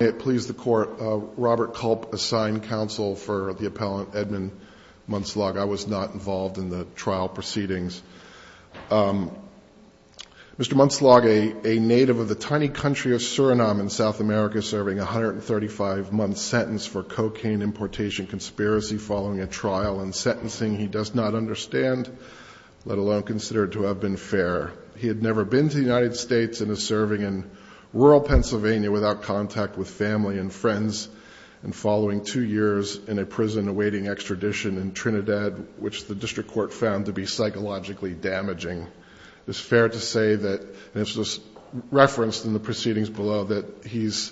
May it please the Court, Robert Culp, Assigned Counsel for the Appellant Edmund Munslaug, I was not involved in the trial proceedings. Mr. Munslaug, a native of the tiny country of Suriname in South America, serving a 135-month sentence for cocaine importation conspiracy following a trial and sentencing, he does not understand, let alone consider it to have been fair. He had never been to the United States and is serving in rural Pennsylvania without contact with family and friends. And following two years in a prison awaiting extradition in Trinidad, which the district court found to be psychologically damaging. It's fair to say that, and this was referenced in the proceedings below, that he's,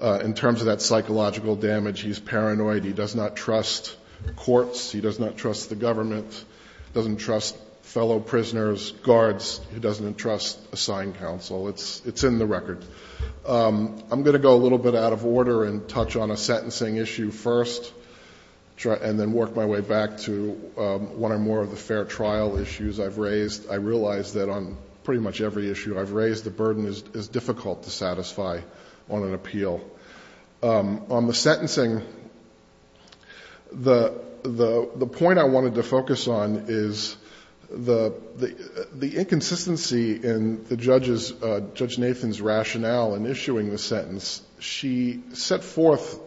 in terms of that psychological damage, he's paranoid. He does not trust courts. He does not trust the government. He doesn't trust fellow prisoners, guards. He doesn't trust assigned counsel. It's in the record. I'm going to go a little bit out of order and touch on a sentencing issue first. And then work my way back to one or more of the fair trial issues I've raised. I realize that on pretty much every issue I've raised, the burden is difficult to satisfy on an appeal. On the sentencing, the point I wanted to focus on is the inconsistency in Judge Nathan's rationale in issuing the sentence. She set forth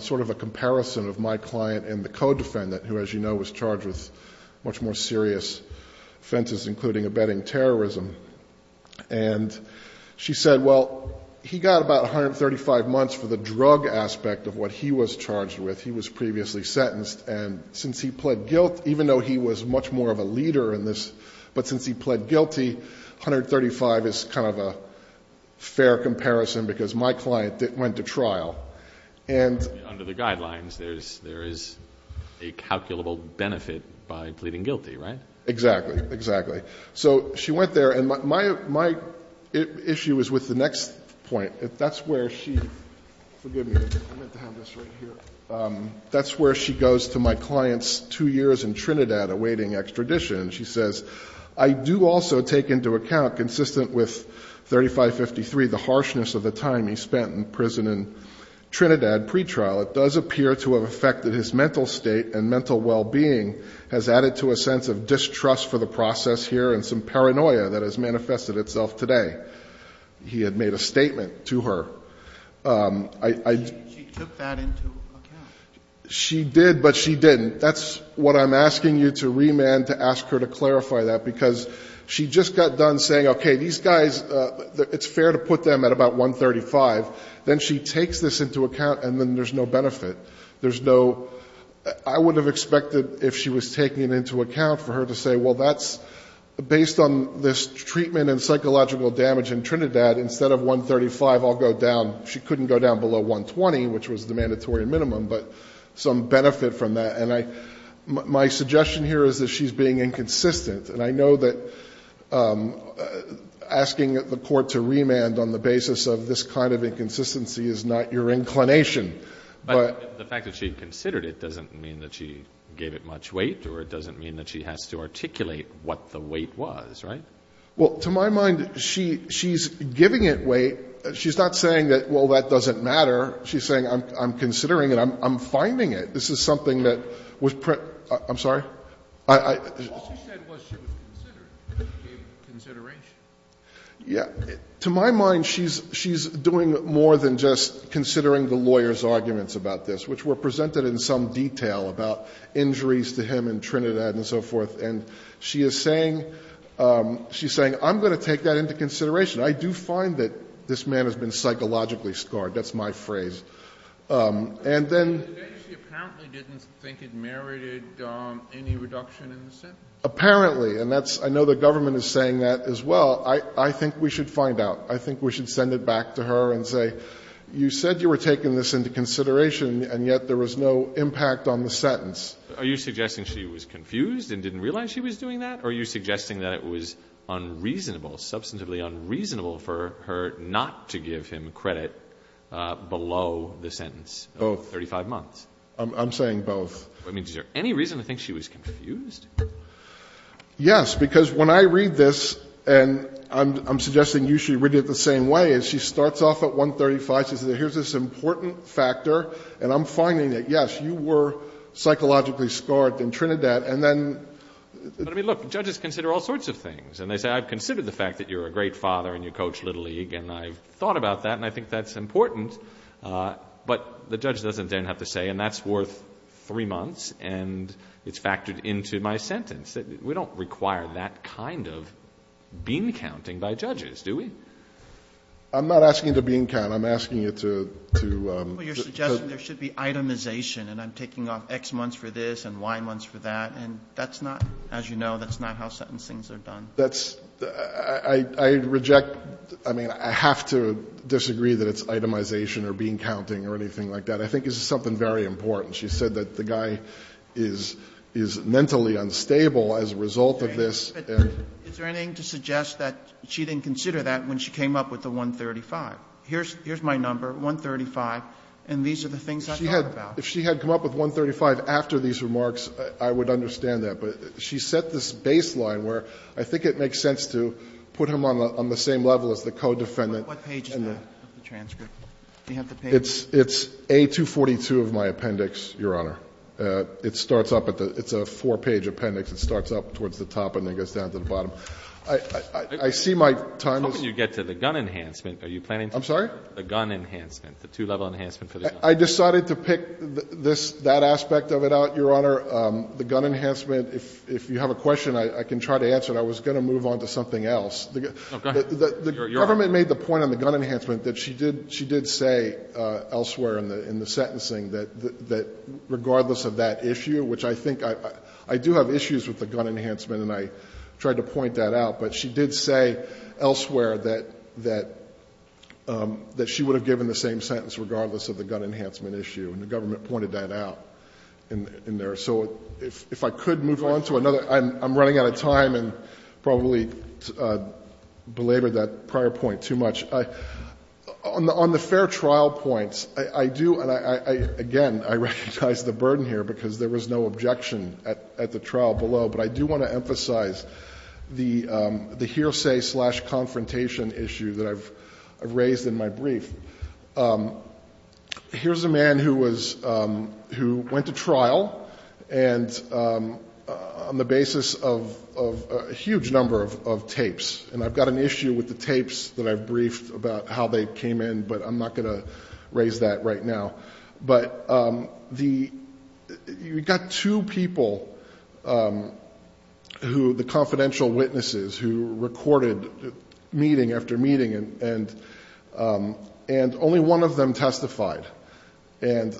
sort of a comparison of my client and the co-defendant, who as you know was charged with much more serious offenses including abetting terrorism. And she said, well, he got about 135 months for the drug aspect of what he was charged with. He was previously sentenced, and since he pled guilt, even though he was much more of a leader in this. But since he pled guilty, 135 is kind of a fair comparison, because my client went to trial. And- Under the guidelines, there is a calculable benefit by pleading guilty, right? Exactly, exactly. So she went there, and my issue is with the next point. That's where she, forgive me, I meant to have this right here. That's where she goes to my client's two years in Trinidad awaiting extradition. And she says, I do also take into account, consistent with 3553, the harshness of the time he spent in prison in Trinidad pretrial. It does appear to have affected his mental state, and mental well-being has added to a sense of distrust for the process here, and some paranoia that has manifested itself today. He had made a statement to her. I- She took that into account. She did, but she didn't. That's what I'm asking you to remand, to ask her to clarify that. Because she just got done saying, okay, these guys, it's fair to put them at about 135. Then she takes this into account, and then there's no benefit. There's no, I would have expected if she was taking it into account for her to say, well, that's based on this treatment and psychological damage in Trinidad. Instead of 135, I'll go down. She couldn't go down below 120, which was the mandatory minimum, but some benefit from that. And my suggestion here is that she's being inconsistent. And I know that asking the court to remand on the basis of this kind of inconsistency is not your inclination. But- The fact that she considered it doesn't mean that she gave it much weight, or it doesn't mean that she has to articulate what the weight was, right? Well, to my mind, she's giving it weight. She's not saying that, well, that doesn't matter. She's saying, I'm considering it, I'm finding it. This is something that was, I'm sorry? All she said was she was considering it, she gave consideration. Yeah, to my mind, she's doing more than just considering the lawyer's arguments about this, which were presented in some detail about injuries to him in Trinidad and so forth. And she is saying, I'm going to take that into consideration. I do find that this man has been psychologically scarred. That's my phrase. And then- But then she apparently didn't think it merited any reduction in the sentence. Apparently, and that's, I know the government is saying that as well. I think we should find out. I think we should send it back to her and say, you said you were taking this into consideration, and yet there was no impact on the sentence. Are you suggesting she was confused and didn't realize she was doing that? Or are you suggesting that it was unreasonable, substantively unreasonable for her not to give him credit below the sentence of 35 months? I'm saying both. I mean, is there any reason to think she was confused? Yes, because when I read this, and I'm suggesting you should read it the same way, is she starts off at 135, she says, here's this important factor. And I'm finding that, yes, you were psychologically scarred in Trinidad, and then- But I mean, look, judges consider all sorts of things. And they say, I've considered the fact that you're a great father, and you coach Little League, and I've thought about that, and I think that's important. But the judge doesn't then have to say, and that's worth three months, and it's factored into my sentence. We don't require that kind of bean counting by judges, do we? I'm not asking you to bean count, I'm asking you to- Well, you're suggesting there should be itemization, and I'm taking off x months for this, and y months for that. And that's not, as you know, that's not how sentencing's are done. That's, I reject, I mean, I have to disagree that it's itemization, or bean counting, or anything like that. I think this is something very important. She said that the guy is mentally unstable as a result of this, and- Is there anything to suggest that she didn't consider that when she came up with the 135? Here's my number, 135, and these are the things I thought about. If she had come up with 135 after these remarks, I would understand that. But she set this baseline where I think it makes sense to put him on the same level as the co-defendant. What page is that, the transcript? Do you have the page? It's A242 of my appendix, Your Honor. It starts up at the, it's a four page appendix. It starts up towards the top and then goes down to the bottom. I see my time is- How can you get to the gun enhancement? Are you planning to- I'm sorry? The gun enhancement, the two level enhancement for the gun. I decided to pick that aspect of it out, Your Honor. The gun enhancement, if you have a question, I can try to answer it. I was going to move on to something else. The government made the point on the gun enhancement that she did say elsewhere in the sentencing that regardless of that issue, which I think I do have issues with the gun enhancement and I tried to point that out. But she did say elsewhere that she would have given the same sentence regardless of the gun enhancement issue. And the government pointed that out in there. So if I could move on to another, I'm running out of time and probably belabored that prior point too much. On the fair trial points, I do, and again, I recognize the burden here because there was no objection at the trial below. But I do want to emphasize the hearsay slash confrontation issue that I've raised in my brief. Here's a man who went to trial and on the basis of a huge number of tapes. And I've got an issue with the tapes that I've briefed about how they came in, but I'm not going to raise that right now. But you've got two people who, the confidential witnesses, who recorded meeting after meeting, and only one of them testified. And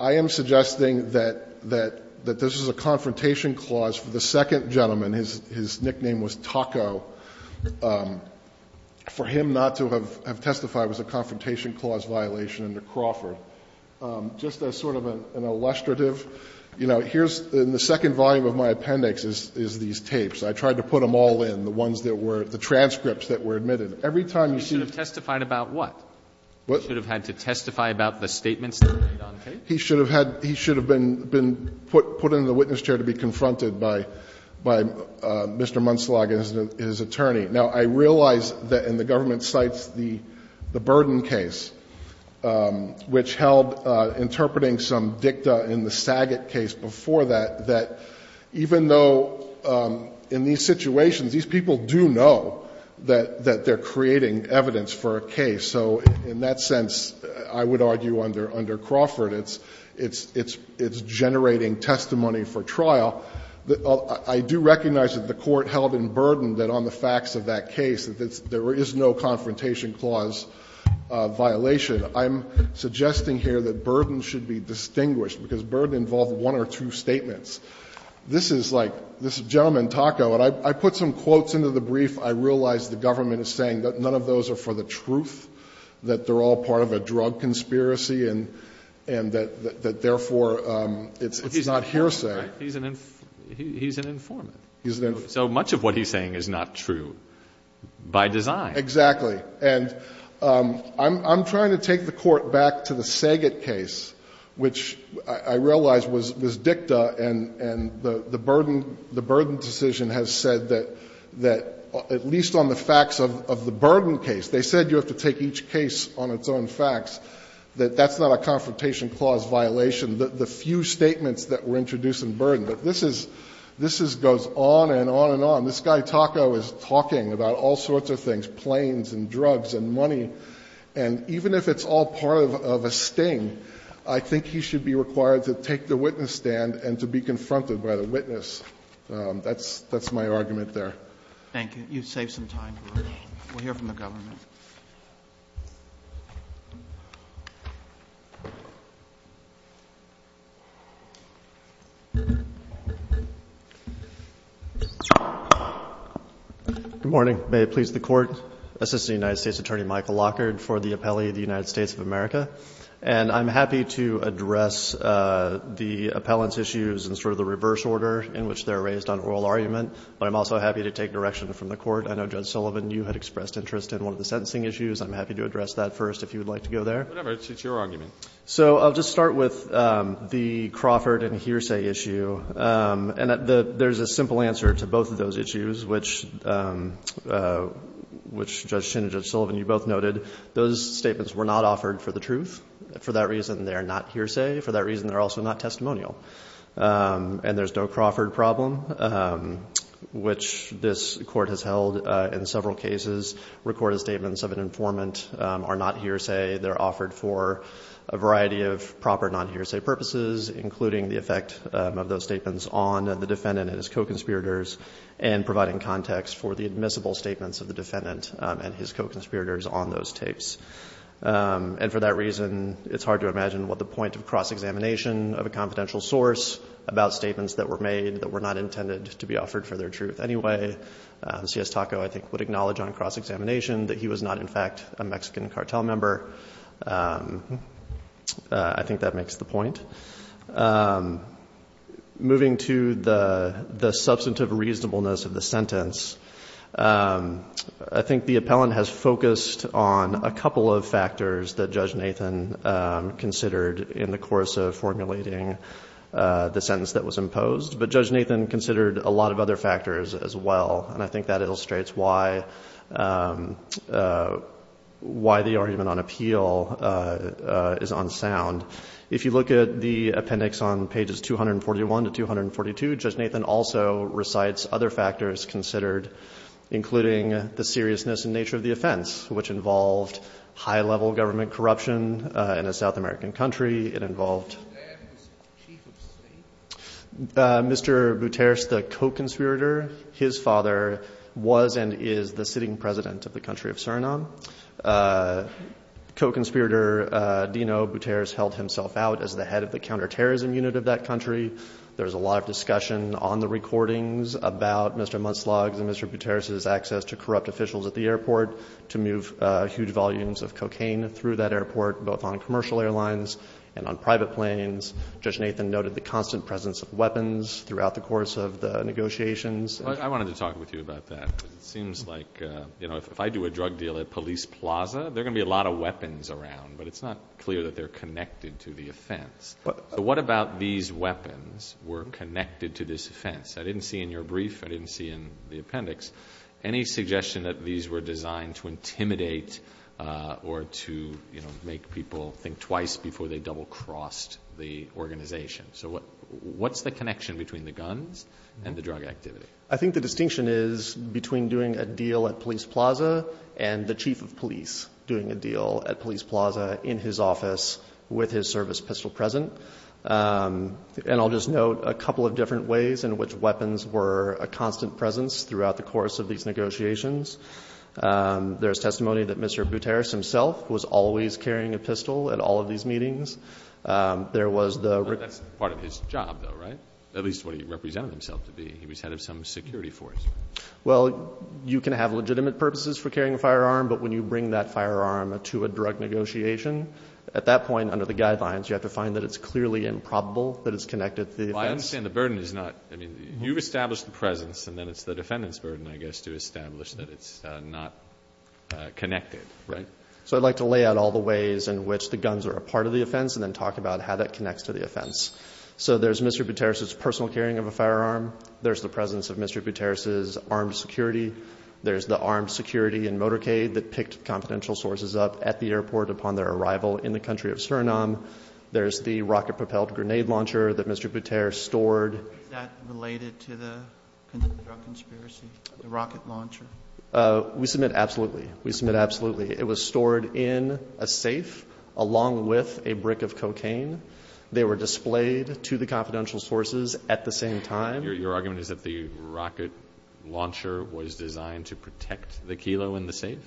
I am suggesting that this is a confrontation clause for the second gentleman. His nickname was Taco. For him not to have testified was a confrontation clause violation under Crawford. Just as sort of an illustrative, here's the second volume of my appendix is these tapes. I tried to put them all in, the ones that were, the transcripts that were admitted. Every time you see- You should have testified about what? You should have had to testify about the statements that were made on tape? He should have been put in the witness chair to be confronted by Mr. Munselag and his attorney. Now, I realize that in the government cites the Burden case, which held interpreting some dicta in the Saget case before that, that even though in these situations, these people do know that they're creating evidence for a case. So in that sense, I would argue under Crawford, it's generating testimony for trial. I do recognize that the Court held in Burden that on the facts of that case, that there is no confrontation clause violation. I'm suggesting here that Burden should be distinguished, because Burden involved one or two statements. This is like, this gentleman, Taco, and I put some quotes into the brief. I realize the government is saying that none of those are for the truth, that they're all part of a drug conspiracy, and that therefore, it's not hearsay. He's an informant, so much of what he's saying is not true by design. Exactly, and I'm trying to take the Court back to the Saget case, which I realize was dicta, and the Burden decision has said that at least on the facts of the Burden case, they said you have to take each case on its own facts, that that's not a confrontation clause violation, the few statements that were introduced in Burden. But this goes on and on and on. This guy, Taco, is talking about all sorts of things, planes and drugs and money. And even if it's all part of a sting, I think he should be required to take the witness stand and to be confronted by the witness. That's my argument there. Thank you. You've saved some time for me. We'll hear from the government. Good morning. May it please the Court. Assistant United States Attorney Michael Lockard for the Appellee of the United States of America. And I'm happy to address the appellant's issues in sort of the reverse order in which they're raised on oral argument. But I'm also happy to take direction from the Court. I know Judge Sullivan, you had expressed interest in one of the sentencing issues. I'm happy to address that first if you would like to go there. Whatever. It's your argument. So I'll just start with the Crawford and Hearsay issue, and there's a simple answer to both of those issues, which Judge Chin and Judge Sullivan, you both noted, those statements were not offered for the truth. For that reason, they're not hearsay. For that reason, they're also not testimonial. And there's the Crawford problem, which this court has held in several cases, recorded statements of an informant are not hearsay. They're offered for a variety of proper non-hearsay purposes, including the effect of those statements on the defendant and his co-conspirators, and providing context for the admissible statements of the defendant and his co-conspirators on those tapes. And for that reason, it's hard to imagine what the point of cross-examination of a confidential source about statements that were made that were not intended to be offered for their truth anyway. C.S. Taco, I think, would acknowledge on cross-examination that he was not, in fact, a Mexican cartel member. I think that makes the point. Moving to the substantive reasonableness of the sentence, I think the appellant has focused on a couple of factors that Judge Nathan considered in the course of formulating the sentence that was imposed. But Judge Nathan considered a lot of other factors as well. And I think that illustrates why the argument on appeal is unsound. If you look at the appendix on pages 241 to 242, Judge Nathan also recites other factors considered, including the seriousness and nature of the offense, which involved high-level government corruption in a South American country. It involved- His father was and is the sitting president of the country of Suriname. Co-conspirator Dino Buteris held himself out as the head of the counterterrorism unit of that country. There was a lot of discussion on the recordings about Mr. Monslaug's and Mr. Buteris's access to corrupt officials at the airport to move huge volumes of cocaine through that airport, both on commercial airlines and on private planes. Judge Nathan noted the constant presence of weapons throughout the course of the negotiations. I wanted to talk with you about that, because it seems like if I do a drug deal at Police Plaza, there are going to be a lot of weapons around, but it's not clear that they're connected to the offense. What about these weapons were connected to this offense? I didn't see in your brief, I didn't see in the appendix any suggestion that these were designed to intimidate or to make people think twice before they double-crossed the organization. So what's the connection between the guns and the drug activity? I think the distinction is between doing a deal at Police Plaza and the chief of police doing a deal at Police Plaza in his office with his service pistol present. And I'll just note a couple of different ways in which weapons were a constant presence throughout the course of these negotiations. There's testimony that Mr. Bouteris himself was always carrying a pistol at all of these meetings. There was the- That's part of his job though, right? At least what he represented himself to be. He was head of some security force. Well, you can have legitimate purposes for carrying a firearm, but when you bring that firearm to a drug negotiation, at that point, under the guidelines, you have to find that it's clearly improbable that it's connected to the offense. I understand the burden is not, I mean, you've established the presence and then it's the defendant's burden, I guess, to establish that it's not connected, right? So I'd like to lay out all the ways in which the guns are a part of the offense and then talk about how that connects to the offense. So there's Mr. Bouteris' personal carrying of a firearm. There's the presence of Mr. Bouteris' armed security. There's the armed security in motorcade that picked confidential sources up at the airport upon their arrival in the country of Suriname. There's the rocket propelled grenade launcher that Mr. Bouteris stored. Is that related to the drug conspiracy, the rocket launcher? We submit absolutely. We submit absolutely. It was stored in a safe along with a brick of cocaine. They were displayed to the confidential sources at the same time. Your argument is that the rocket launcher was designed to protect the kilo in the safe?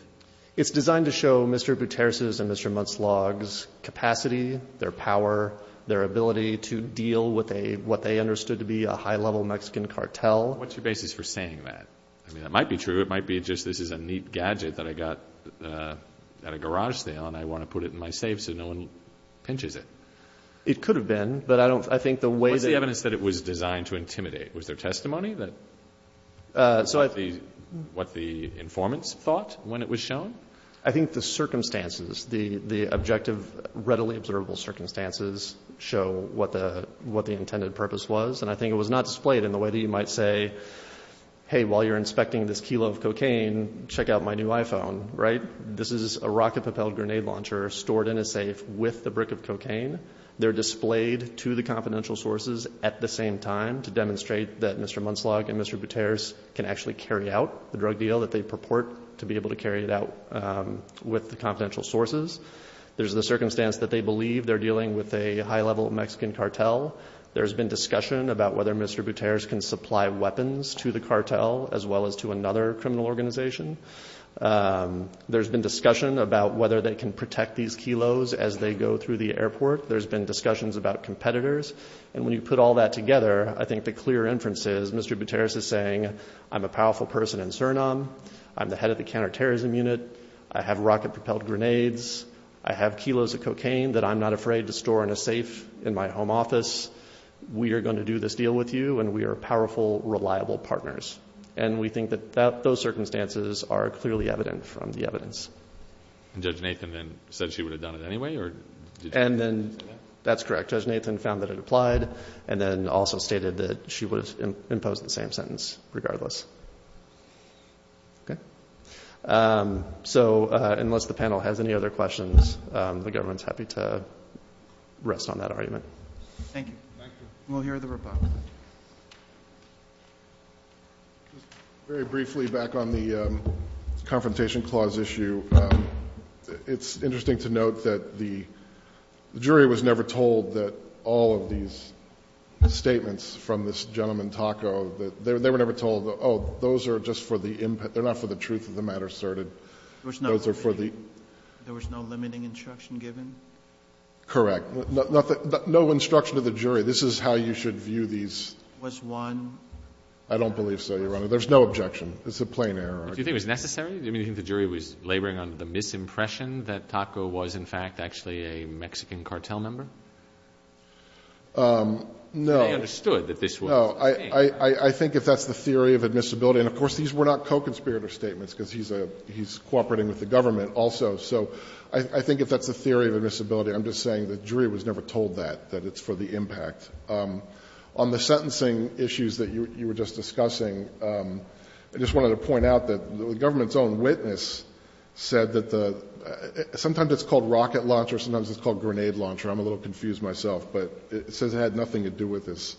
It's designed to show Mr. Bouteris' and Mr. Mutzlog's capacity, their power, their ability to deal with what they understood to be a high-level Mexican cartel. What's your basis for saying that? I mean, that might be true. It might be just this is a neat gadget that I got at a garage sale and I want to put it in my safe so no one pinches it. It could have been, but I don't, I think the way that... What's the evidence that it was designed to intimidate? Was there testimony that what the informants thought when it was shown? I think the circumstances, the objective readily observable circumstances show what the intended purpose was. And I think it was not displayed in the way that you might say, hey, while you're inspecting this kilo of cocaine, check out my new iPhone, right? This is a rocket propelled grenade launcher stored in a safe with the brick of cocaine. They're displayed to the confidential sources at the same time to demonstrate that Mr. Mutzlog and Mr. Bouteris can actually carry out the drug deal that they purport to be able to carry it out with the confidential sources. There's the circumstance that they believe they're dealing with a high-level Mexican cartel. There's been discussion about whether Mr. Bouteris can supply weapons to the cartel as well as to another criminal organization. There's been discussion about whether they can protect these kilos as they go through the airport. There's been discussions about competitors. And when you put all that together, I think the clear inference is Mr. Bouteris is saying, I'm a powerful person in Suriname. I'm the head of the counterterrorism unit. I have rocket propelled grenades. I have kilos of cocaine that I'm not afraid to store in a safe in my home office. We are going to do this deal with you, and we are powerful, reliable partners. And we think that those circumstances are clearly evident from the evidence. And Judge Nathan then said she would have done it anyway? And then that's correct. Judge Nathan found that it applied and then also stated that she would have imposed the same sentence regardless. Okay. So unless the panel has any other questions, the government's happy to rest on that argument. Thank you. We'll hear the rebuttal. Very briefly back on the confrontation clause issue. It's interesting to note that the jury was never told that all of these statements from this gentleman, Taco, they were never told, oh, those are just for the input. They're not for the truth of the matter asserted. There was no limiting instruction given? Correct. No instruction to the jury. This is how you should view these. Was one? I don't believe so, Your Honor. There's no objection. It's a plain error. Do you think it was necessary? Do you think the jury was laboring under the misimpression that Taco was, in fact, actually a Mexican cartel member? No. They understood that this was a thing. No. I think if that's the theory of admissibility, and, of course, these were not co-conspirator statements because he's cooperating with the government also. So I think if that's the theory of admissibility, I'm just saying the jury was never told that, that it's for the impact. On the sentencing issues that you were just discussing, I just wanted to point out that the government's own witness said that sometimes it's called rocket launch or sometimes it's called grenade launch, or I'm a little confused myself, but it says it had nothing to do with this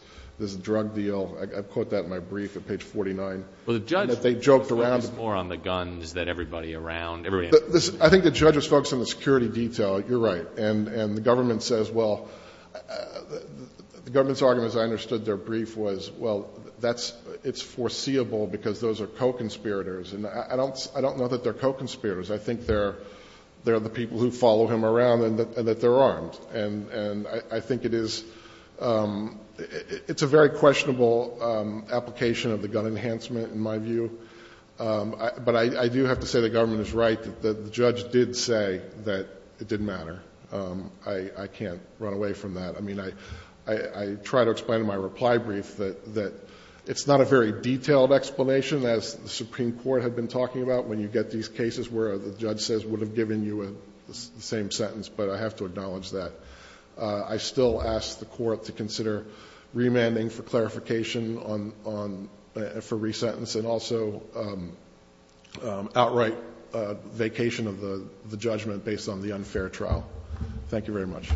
drug deal. I quote that in my brief at page 49. Well, the judge focused more on the guns than everybody around. I think the judge was focused on the security detail. You're right. And the government says, well, the government's argument, as I understood their brief, was, well, it's foreseeable because those are co-conspirators. And I don't know that they're co-conspirators. I think they're the people who follow him around and that they're armed. And I think it is a very questionable application of the gun enhancement, in my view. But I do have to say the government is right. The judge did say that it didn't matter. I can't run away from that. I mean, I try to explain in my reply brief that it's not a very detailed explanation, as the Supreme Court had been talking about when you get these cases where the judge says, would have given you the same sentence. But I have to acknowledge that. I still ask the court to consider remanding for clarification for resentence and also outright vacation of the judgment based on the unfair trial. Thank you very much.